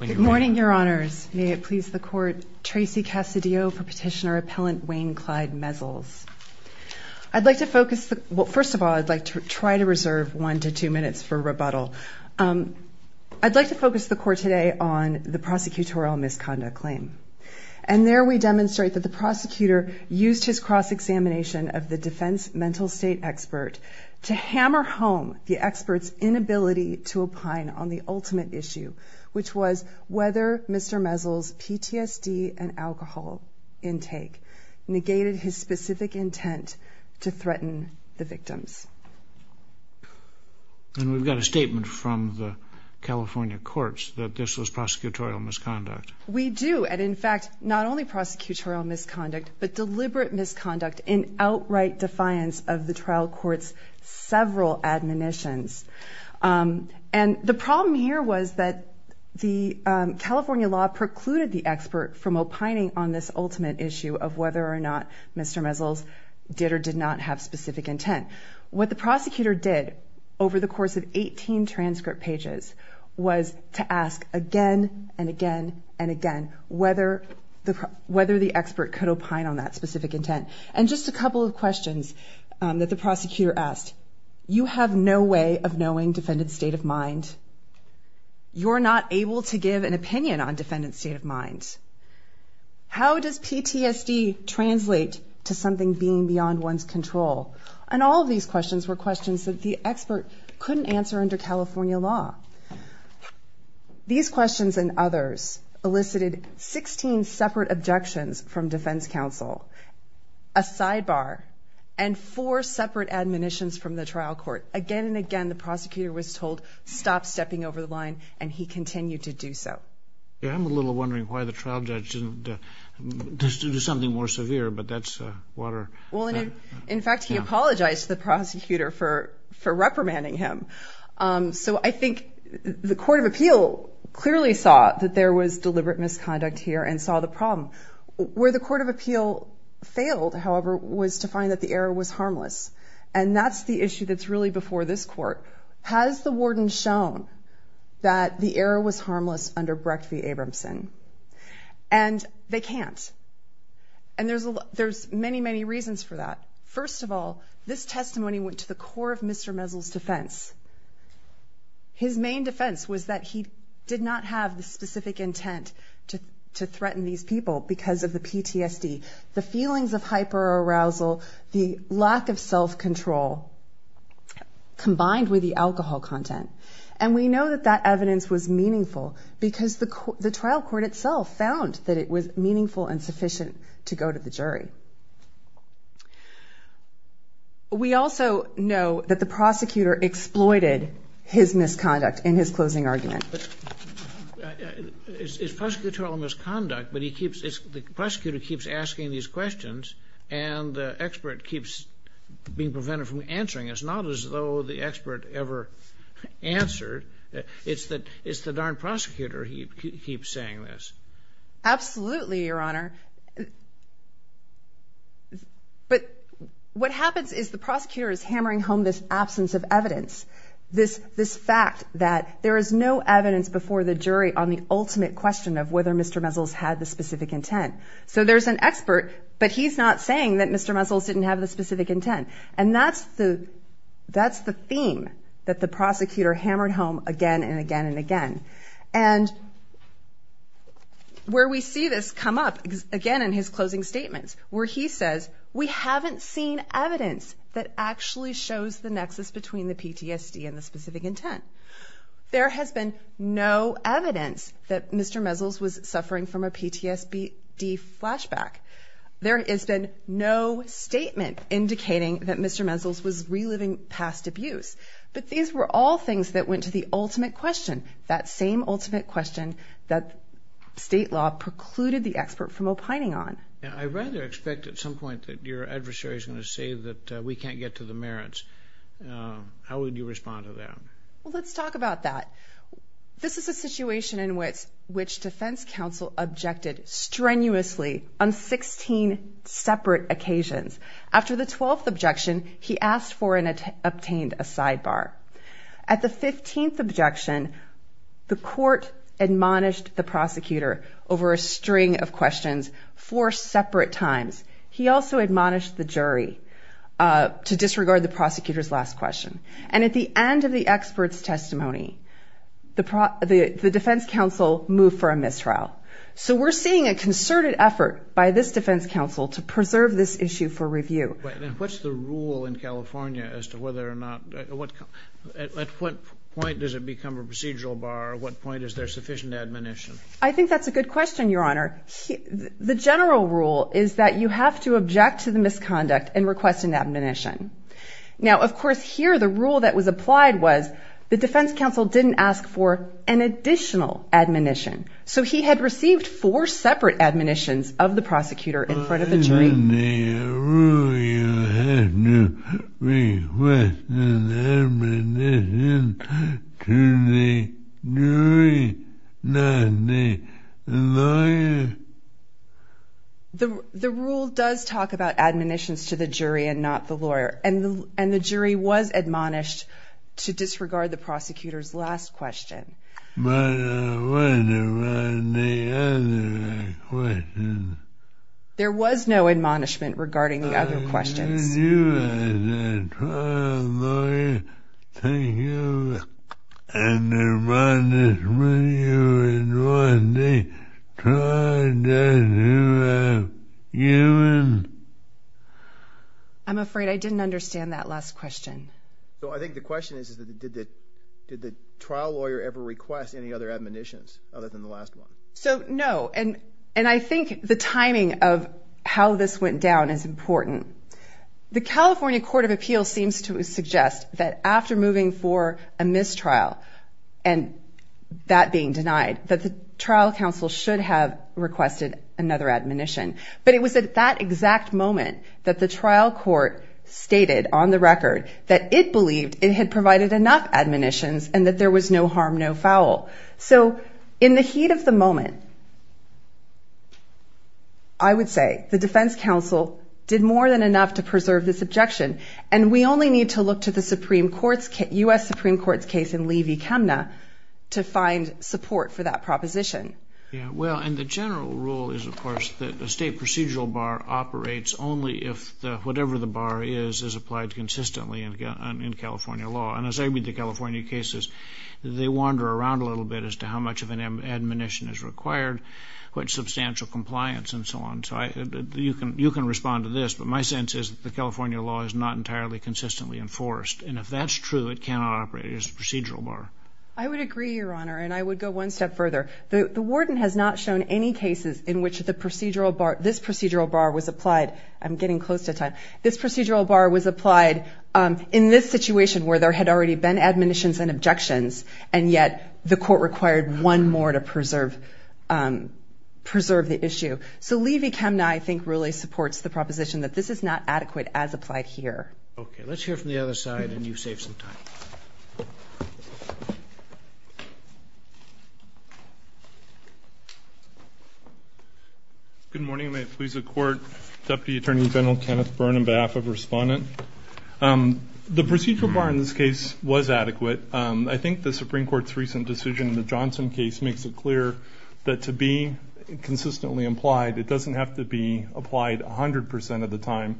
Good morning, Your Honors. May it please the Court, Tracy Cassidio for Petitioner-Appellant Wayne Clyde Mezzles. I'd like to focus, well, first of all, I'd like to try to reserve one to two minutes for rebuttal. I'd like to focus the Court today on the prosecutorial misconduct claim. And there we demonstrate that the prosecutor used his cross-examination of the defense mental state expert to hammer home the expert's inability to opine on the ultimate issue, which was whether Mr. Mezzles' PTSD and alcohol intake negated his specific intent to threaten the victims. And we've got a statement from the California courts that this was prosecutorial misconduct. We do, and in fact, not only prosecutorial misconduct, but deliberate misconduct in outright defiance of the trial court's several admonitions. And the problem here was that the California law precluded the expert from opining on this ultimate issue of whether or not Mr. Mezzles did or did not have specific intent. What the prosecutor did over the course of 18 transcript pages was to ask again and again and again whether the expert could opine on that specific intent. And just a couple of questions that the prosecutor asked. You have no way of knowing defendant's state of mind. You're not able to give an opinion on defendant's state of mind. How does PTSD translate to something being beyond one's control? And all of these questions were questions that the expert couldn't answer under California law. These questions and others elicited 16 separate objections from defense counsel, a sidebar, and four separate admonitions from the trial court. Again and again, the prosecutor was told, stop stepping over the line, and he continued to do so. I'm a little wondering why the trial judge didn't do something more severe, but that's water. Well, in fact, he apologized to the prosecutor for reprimanding him. So I think the court of appeal clearly saw that there was deliberate misconduct here and saw the problem. Where the court of appeal failed, however, was to find that the error was harmless. And that's the issue that's really before this court. Has the warden shown that the error was harmless under Brecht v. Abramson? And they can't. And there's many, many reasons for that. First of all, this testimony went to the core of Mr. Mesel's defense. His main defense was that he did not have the specific intent to threaten these people because of the PTSD. The feelings of hyperarousal, the lack of self-control, combined with the alcohol content. And we know that that evidence was meaningful because the trial court itself found that it was meaningful and sufficient to go to the jury. We also know that the prosecutor exploited his misconduct in his closing argument. It's prosecutorial misconduct, but the prosecutor keeps asking these questions and the expert keeps being prevented from answering. It's not as though the expert ever answered. It's the darn prosecutor who keeps saying this. Absolutely, Your Honor. But what happens is the prosecutor is hammering home this absence of evidence. This fact that there is no evidence before the jury on the ultimate question of whether Mr. Mesel's had the specific intent. So there's an expert, but he's not saying that Mr. Mesel's didn't have the specific intent. And that's the theme that the prosecutor hammered home again and again and again. And where we see this come up again in his closing statements where he says, we haven't seen evidence that actually shows the nexus between the PTSD and the specific intent. There has been no evidence that Mr. Mesel's was suffering from a PTSD flashback. There has been no statement indicating that Mr. Mesel's was reliving past abuse. But these were all things that went to the ultimate question. That same ultimate question that state law precluded the expert from opining on. I rather expect at some point that your adversary is going to say that we can't get to the merits. How would you respond to that? Well, let's talk about that. This is a situation in which defense counsel objected strenuously on 16 separate occasions. After the 12th objection, he asked for and obtained a sidebar. At the 15th objection, the court admonished the prosecutor over a string of questions four separate times. He also admonished the jury to disregard the prosecutor's last question. And at the end of the expert's testimony, the defense counsel moved for a mistrial. So we're seeing a concerted effort by this defense counsel to preserve this issue for review. What's the rule in California as to whether or not, at what point does it become a procedural bar? At what point is there sufficient admonition? I think that's a good question, Your Honor. The general rule is that you have to object to the misconduct and request an admonition. Now, of course, here the rule that was applied was the defense counsel didn't ask for an additional admonition. So he had received four separate admonitions of the prosecutor in front of the jury. Isn't the rule you have to request an admonition to the jury, not the lawyer? The rule does talk about admonitions to the jury and not the lawyer. And the jury was admonished to disregard the prosecutor's last question. But what about the other questions? There was no admonishment regarding the other questions. Did you as a trial lawyer think of an admonishment you would want the trial judge to have given? The California Court of Appeals seems to suggest that after moving for a mistrial and that being denied, that the trial counsel should have requested another admonition. But it was at that exact moment that the trial court stated on the record that it believed it had provided enough admonitions and that there was no harm, no foul. So in the heat of the moment, I would say the defense counsel did more than enough to preserve this objection. And we only need to look to the U.S. Supreme Court's case in Levy-Kemna to find support for that proposition. Well, and the general rule is, of course, that the state procedural bar operates only if whatever the bar is, is applied consistently in California law. And as I read the California cases, they wander around a little bit as to how much of an admonition is required, what substantial compliance and so on. So you can respond to this, but my sense is that the California law is not entirely consistently enforced. And if that's true, it cannot operate as a procedural bar. I would agree, Your Honor, and I would go one step further. The warden has not shown any cases in which this procedural bar was applied. I'm getting close to time. This procedural bar was applied in this situation where there had already been admonitions and objections, and yet the court required one more to preserve the issue. So Levy-Kemna, I think, really supports the proposition that this is not adequate as applied here. Okay. Let's hear from the other side, and you've saved some time. Good morning. Good morning. May it please the Court. Deputy Attorney General Kenneth Byrne on behalf of Respondent. The procedural bar in this case was adequate. I think the Supreme Court's recent decision in the Johnson case makes it clear that to be consistently applied, it doesn't have to be applied 100 percent of the time.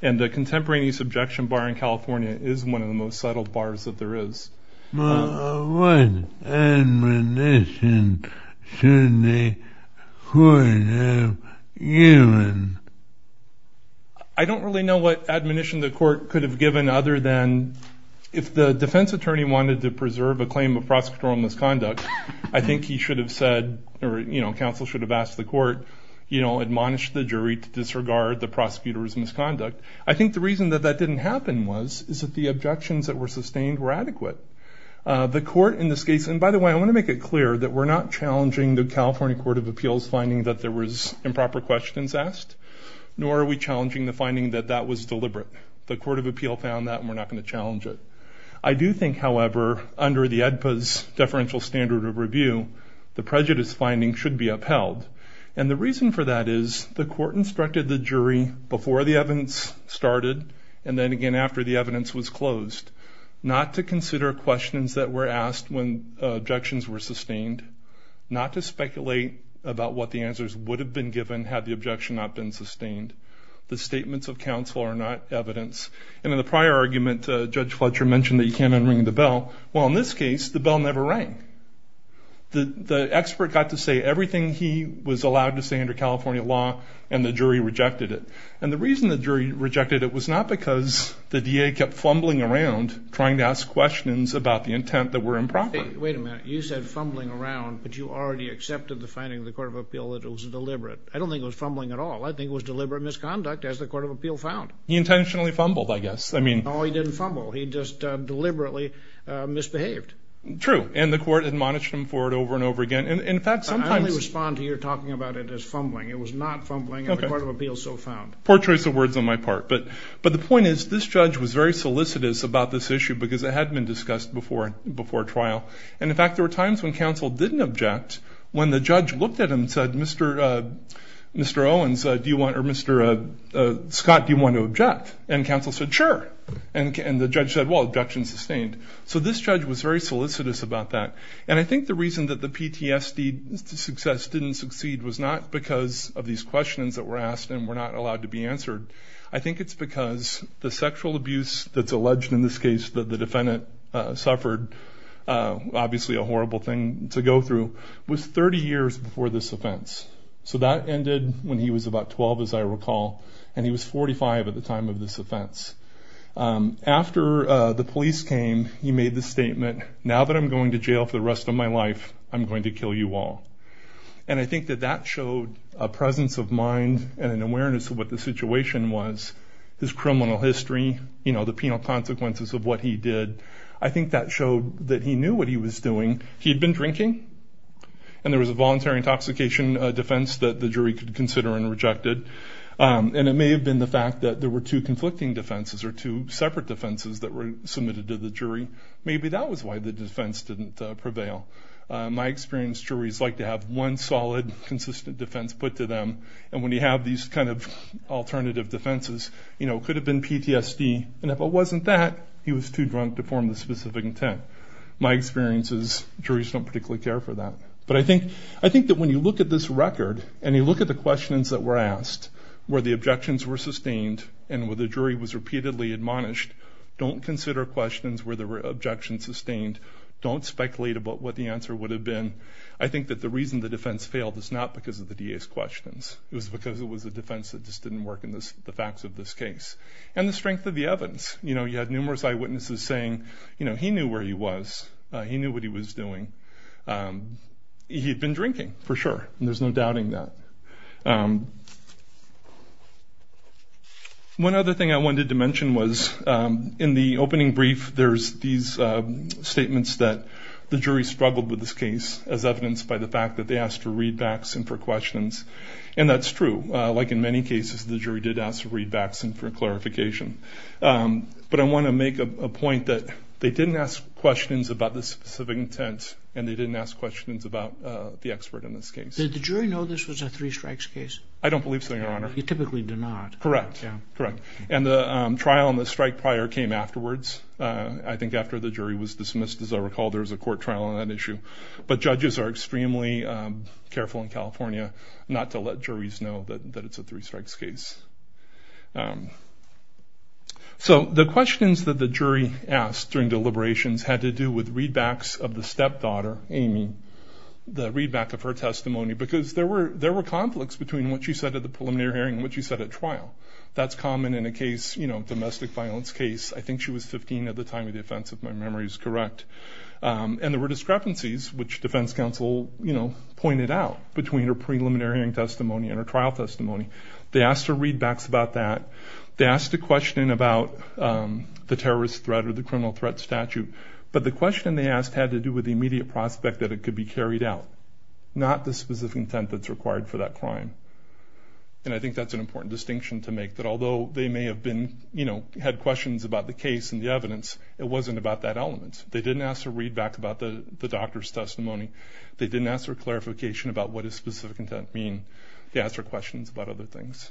And the contemporaneous objection bar in California is one of the most subtle bars that there is. What admonition should the court have given? I don't really know what admonition the court could have given other than if the defense attorney wanted to preserve a claim of prosecutorial misconduct, I think he should have said, or counsel should have asked the court, you know, admonish the jury to disregard the prosecutor's misconduct. I think the reason that that didn't happen was is that the objections that were sustained were adequate. The court in this case, and by the way, I want to make it clear that we're not challenging the California Court of Appeals finding that there was improper questions asked, nor are we challenging the finding that that was deliberate. The Court of Appeal found that, and we're not going to challenge it. I do think, however, under the ADPA's deferential standard of review, the prejudice finding should be upheld. And the reason for that is the court instructed the jury before the evidence started, and then again after the evidence was closed, not to consider questions that were asked when objections were sustained, not to speculate about what the answers would have been given had the objection not been sustained. The statements of counsel are not evidence. And in the prior argument, Judge Fletcher mentioned that you can't unring the bell. Well, in this case, the bell never rang. The expert got to say everything he was allowed to say under California law, and the jury rejected it. And the reason the jury rejected it was not because the DA kept fumbling around trying to ask questions about the intent that were improper. Wait a minute. You said fumbling around, but you already accepted the finding of the Court of Appeal that it was deliberate. I don't think it was fumbling at all. I think it was deliberate misconduct, as the Court of Appeal found. He intentionally fumbled, I guess. No, he didn't fumble. He just deliberately misbehaved. True. And the Court admonished him for it over and over again. I only respond to your talking about it as fumbling. It was not fumbling at the Court of Appeal so found. Poor choice of words on my part. But the point is this judge was very solicitous about this issue because it had been discussed before trial. And, in fact, there were times when counsel didn't object when the judge looked at him and said, Mr. Scott, do you want to object? And counsel said, sure. And the judge said, well, objection sustained. So this judge was very solicitous about that. And I think the reason that the PTSD success didn't succeed was not because of these questions that were asked and were not allowed to be answered. I think it's because the sexual abuse that's alleged in this case that the defendant suffered, obviously a horrible thing to go through, was 30 years before this offense. So that ended when he was about 12, as I recall, and he was 45 at the time of this offense. After the police came, he made the statement, now that I'm going to jail for the rest of my life, I'm going to kill you all. And I think that that showed a presence of mind and an awareness of what the situation was, his criminal history, you know, the penal consequences of what he did. I think that showed that he knew what he was doing. He had been drinking, and there was a voluntary intoxication defense that the jury could consider and rejected. And it may have been the fact that there were two conflicting defenses or two separate defenses that were submitted to the jury. Maybe that was why the defense didn't prevail. My experience, juries like to have one solid, consistent defense put to them. And when you have these kind of alternative defenses, you know, it could have been PTSD. And if it wasn't that, he was too drunk to form the specific intent. My experience is juries don't particularly care for that. But I think that when you look at this record and you look at the questions that were asked, where the objections were sustained and where the jury was repeatedly admonished, don't consider questions where there were objections sustained. Don't speculate about what the answer would have been. I think that the reason the defense failed was not because of the DA's questions. It was because it was a defense that just didn't work in the facts of this case. And the strength of the evidence. You know, you had numerous eyewitnesses saying, you know, he knew where he was. He knew what he was doing. He had been drinking, for sure, and there's no doubting that. One other thing I wanted to mention was in the opening brief, there's these statements that the jury struggled with this case, as evidenced by the fact that they asked for readbacks and for questions. And that's true. Like in many cases, the jury did ask for readbacks and for clarification. But I want to make a point that they didn't ask questions about the specific intent and they didn't ask questions about the expert in this case. Did the jury know this was a three strikes case? I don't believe so, Your Honor. They typically do not. Correct. And the trial and the strike prior came afterwards. I think after the jury was dismissed, as I recall, there was a court trial on that issue. But judges are extremely careful in California not to let juries know that it's a three strikes case. So the questions that the jury asked during deliberations had to do with readbacks of the stepdaughter, Amy, the readback of her testimony, because there were conflicts between what she said at the preliminary hearing and what she said at trial. That's common in a case, you know, domestic violence case. I think she was 15 at the time of the offense, if my memory is correct. And there were discrepancies, which defense counsel, you know, pointed out between her preliminary hearing testimony and her trial testimony. They asked for readbacks about that. They asked a question about the terrorist threat or the criminal threat statute. But the question they asked had to do with the immediate prospect that it could be carried out, not the specific intent that's required for that crime. And I think that's an important distinction to make, that although they may have been, you know, had questions about the case and the evidence, it wasn't about that element. They didn't ask for readback about the doctor's testimony. They didn't ask for clarification about what does specific intent mean. They asked for questions about other things.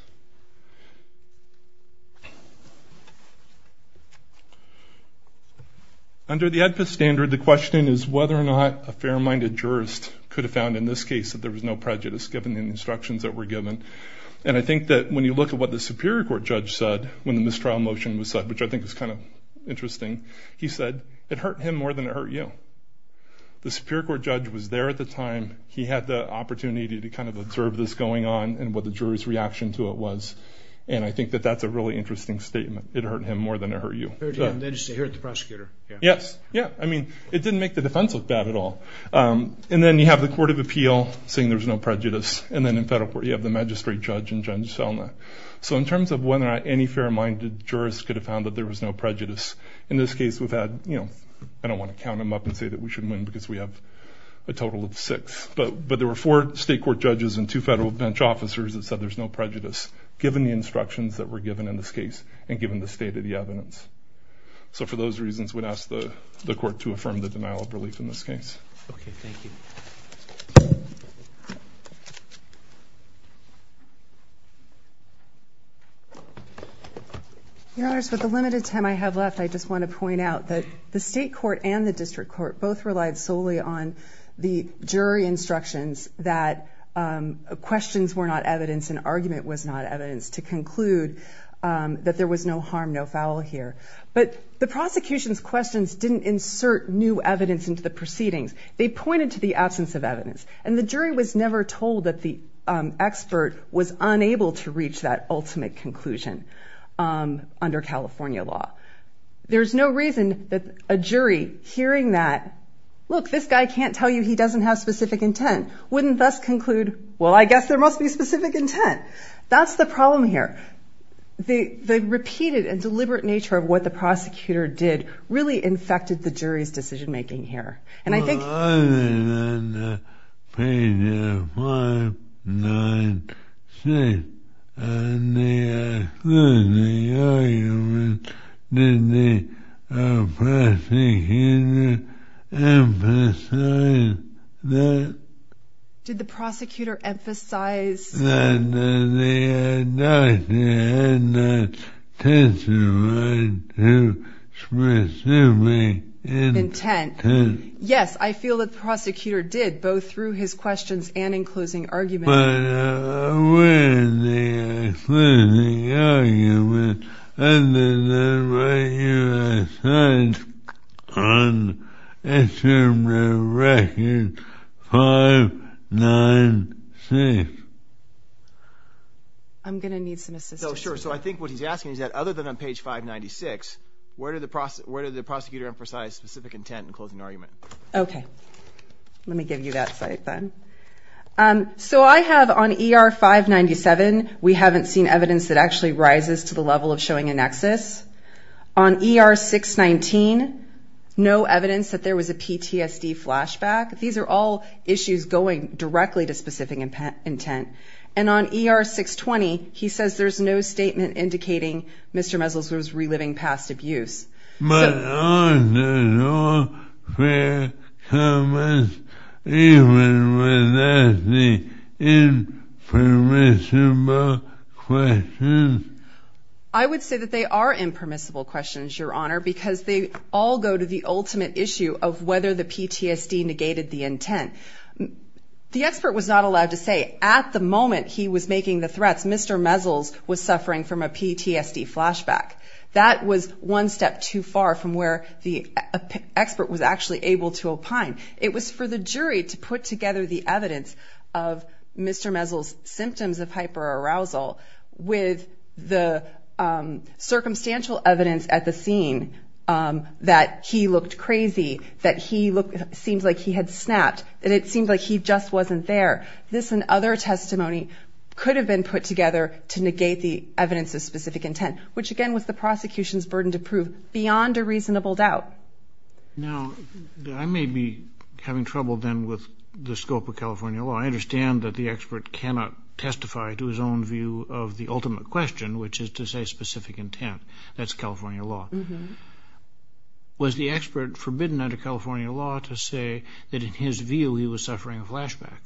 Under the AEDPA standard, the question is whether or not a fair-minded jurist could have found in this case that there was no prejudice given the instructions that were given. And I think that when you look at what the Superior Court judge said when the mistrial motion was said, which I think is kind of interesting, he said, it hurt him more than it hurt you. The Superior Court judge was there at the time. He had the opportunity to kind of observe this going on and what the jury's reaction to it was. And I think that that's a really interesting statement. It hurt him more than it hurt you. It hurt the prosecutor. Yes. Yeah. I mean, it didn't make the defense look bad at all. And then you have the Court of Appeal saying there was no prejudice. And then in federal court you have the magistrate judge and Judge Selna. So in terms of whether or not any fair-minded jurist could have found that there was no prejudice, in this case we've had, you know, I don't want to count them up and say that we should win because we have a total of six. But there were four state court judges and two federal bench officers that said there's no prejudice given the instructions that were given in this case and given the state of the evidence. So for those reasons, we'd ask the court to affirm the denial of relief in this case. Okay. Thank you. Your Honors, with the limited time I have left, I just want to point out that the state court and the district court both relied solely on the jury instructions that questions were not evidence and argument was not evidence to conclude that there was no harm, no foul here. But the prosecution's questions didn't insert new evidence into the proceedings. They pointed to the absence of evidence. And the jury was never told that the expert was unable to reach that ultimate conclusion under California law. There's no reason that a jury hearing that, look, this guy can't tell you he doesn't have specific intent, wouldn't thus conclude, well, I guess there must be specific intent. That's the problem here. The repeated and deliberate nature of what the prosecutor did really infected the jury's decision-making here. Well, other than page 596, in the exclusionary argument, did the prosecutor emphasize that? Did the prosecutor emphasize that the indictment had not testified to specific intent? Yes, I feel that the prosecutor did, both through his questions and in closing arguments. But where is the exclusive argument other than what you have said on Assembly Record 596? I'm going to need some assistance. Sure, so I think what he's asking is that other than on page 596, where did the prosecutor emphasize specific intent in closing argument? Okay. Let me give you that slide then. So I have on ER 597, we haven't seen evidence that actually rises to the level of showing a nexus. On ER 619, no evidence that there was a PTSD flashback. These are all issues going directly to specific intent. And on ER 620, he says there's no statement indicating Mr. Mezels was reliving past abuse. I would say that they are impermissible questions, Your Honor, because they all go to the ultimate issue of whether the PTSD negated the intent. The expert was not allowed to say at the moment he was making the threats, Mr. Mezels was suffering from a PTSD flashback. That was one step too far from where the expert was actually able to opine. It was for the jury to put together the evidence of Mr. Mezels' symptoms of hyperarousal with the circumstantial evidence at the scene that he looked crazy, that he seemed like he had snapped, and it seemed like he just wasn't there. This and other testimony could have been put together to negate the evidence of specific intent, which, again, was the prosecution's burden to prove beyond a reasonable doubt. Now, I may be having trouble, then, with the scope of California law. I understand that the expert cannot testify to his own view of the ultimate question, which is to say specific intent. That's California law. Was the expert forbidden under California law to say that in his view he was suffering a flashback?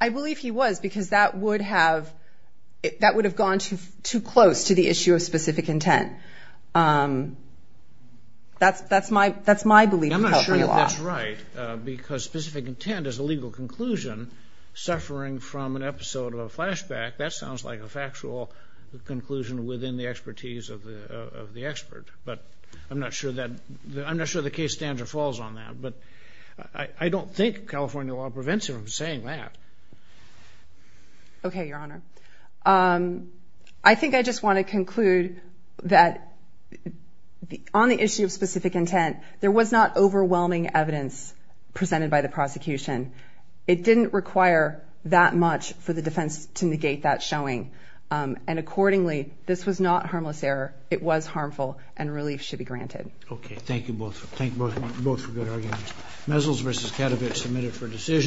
I believe he was, because that would have gone too close to the issue of specific intent. That's my belief in California law. I'm not sure that that's right, because specific intent is a legal conclusion. Suffering from an episode of a flashback, that sounds like a factual conclusion within the expertise of the expert. But I'm not sure the case standard falls on that. But I don't think California law prevents him from saying that. Okay, Your Honor. I think I just want to conclude that on the issue of specific intent, there was not overwhelming evidence presented by the prosecution. It didn't require that much for the defense to negate that showing. And accordingly, this was not harmless error. It was harmful, and relief should be granted. Okay, thank you both. Thank you both for good arguments. Mezzos v. Katowicz, submitted for decision.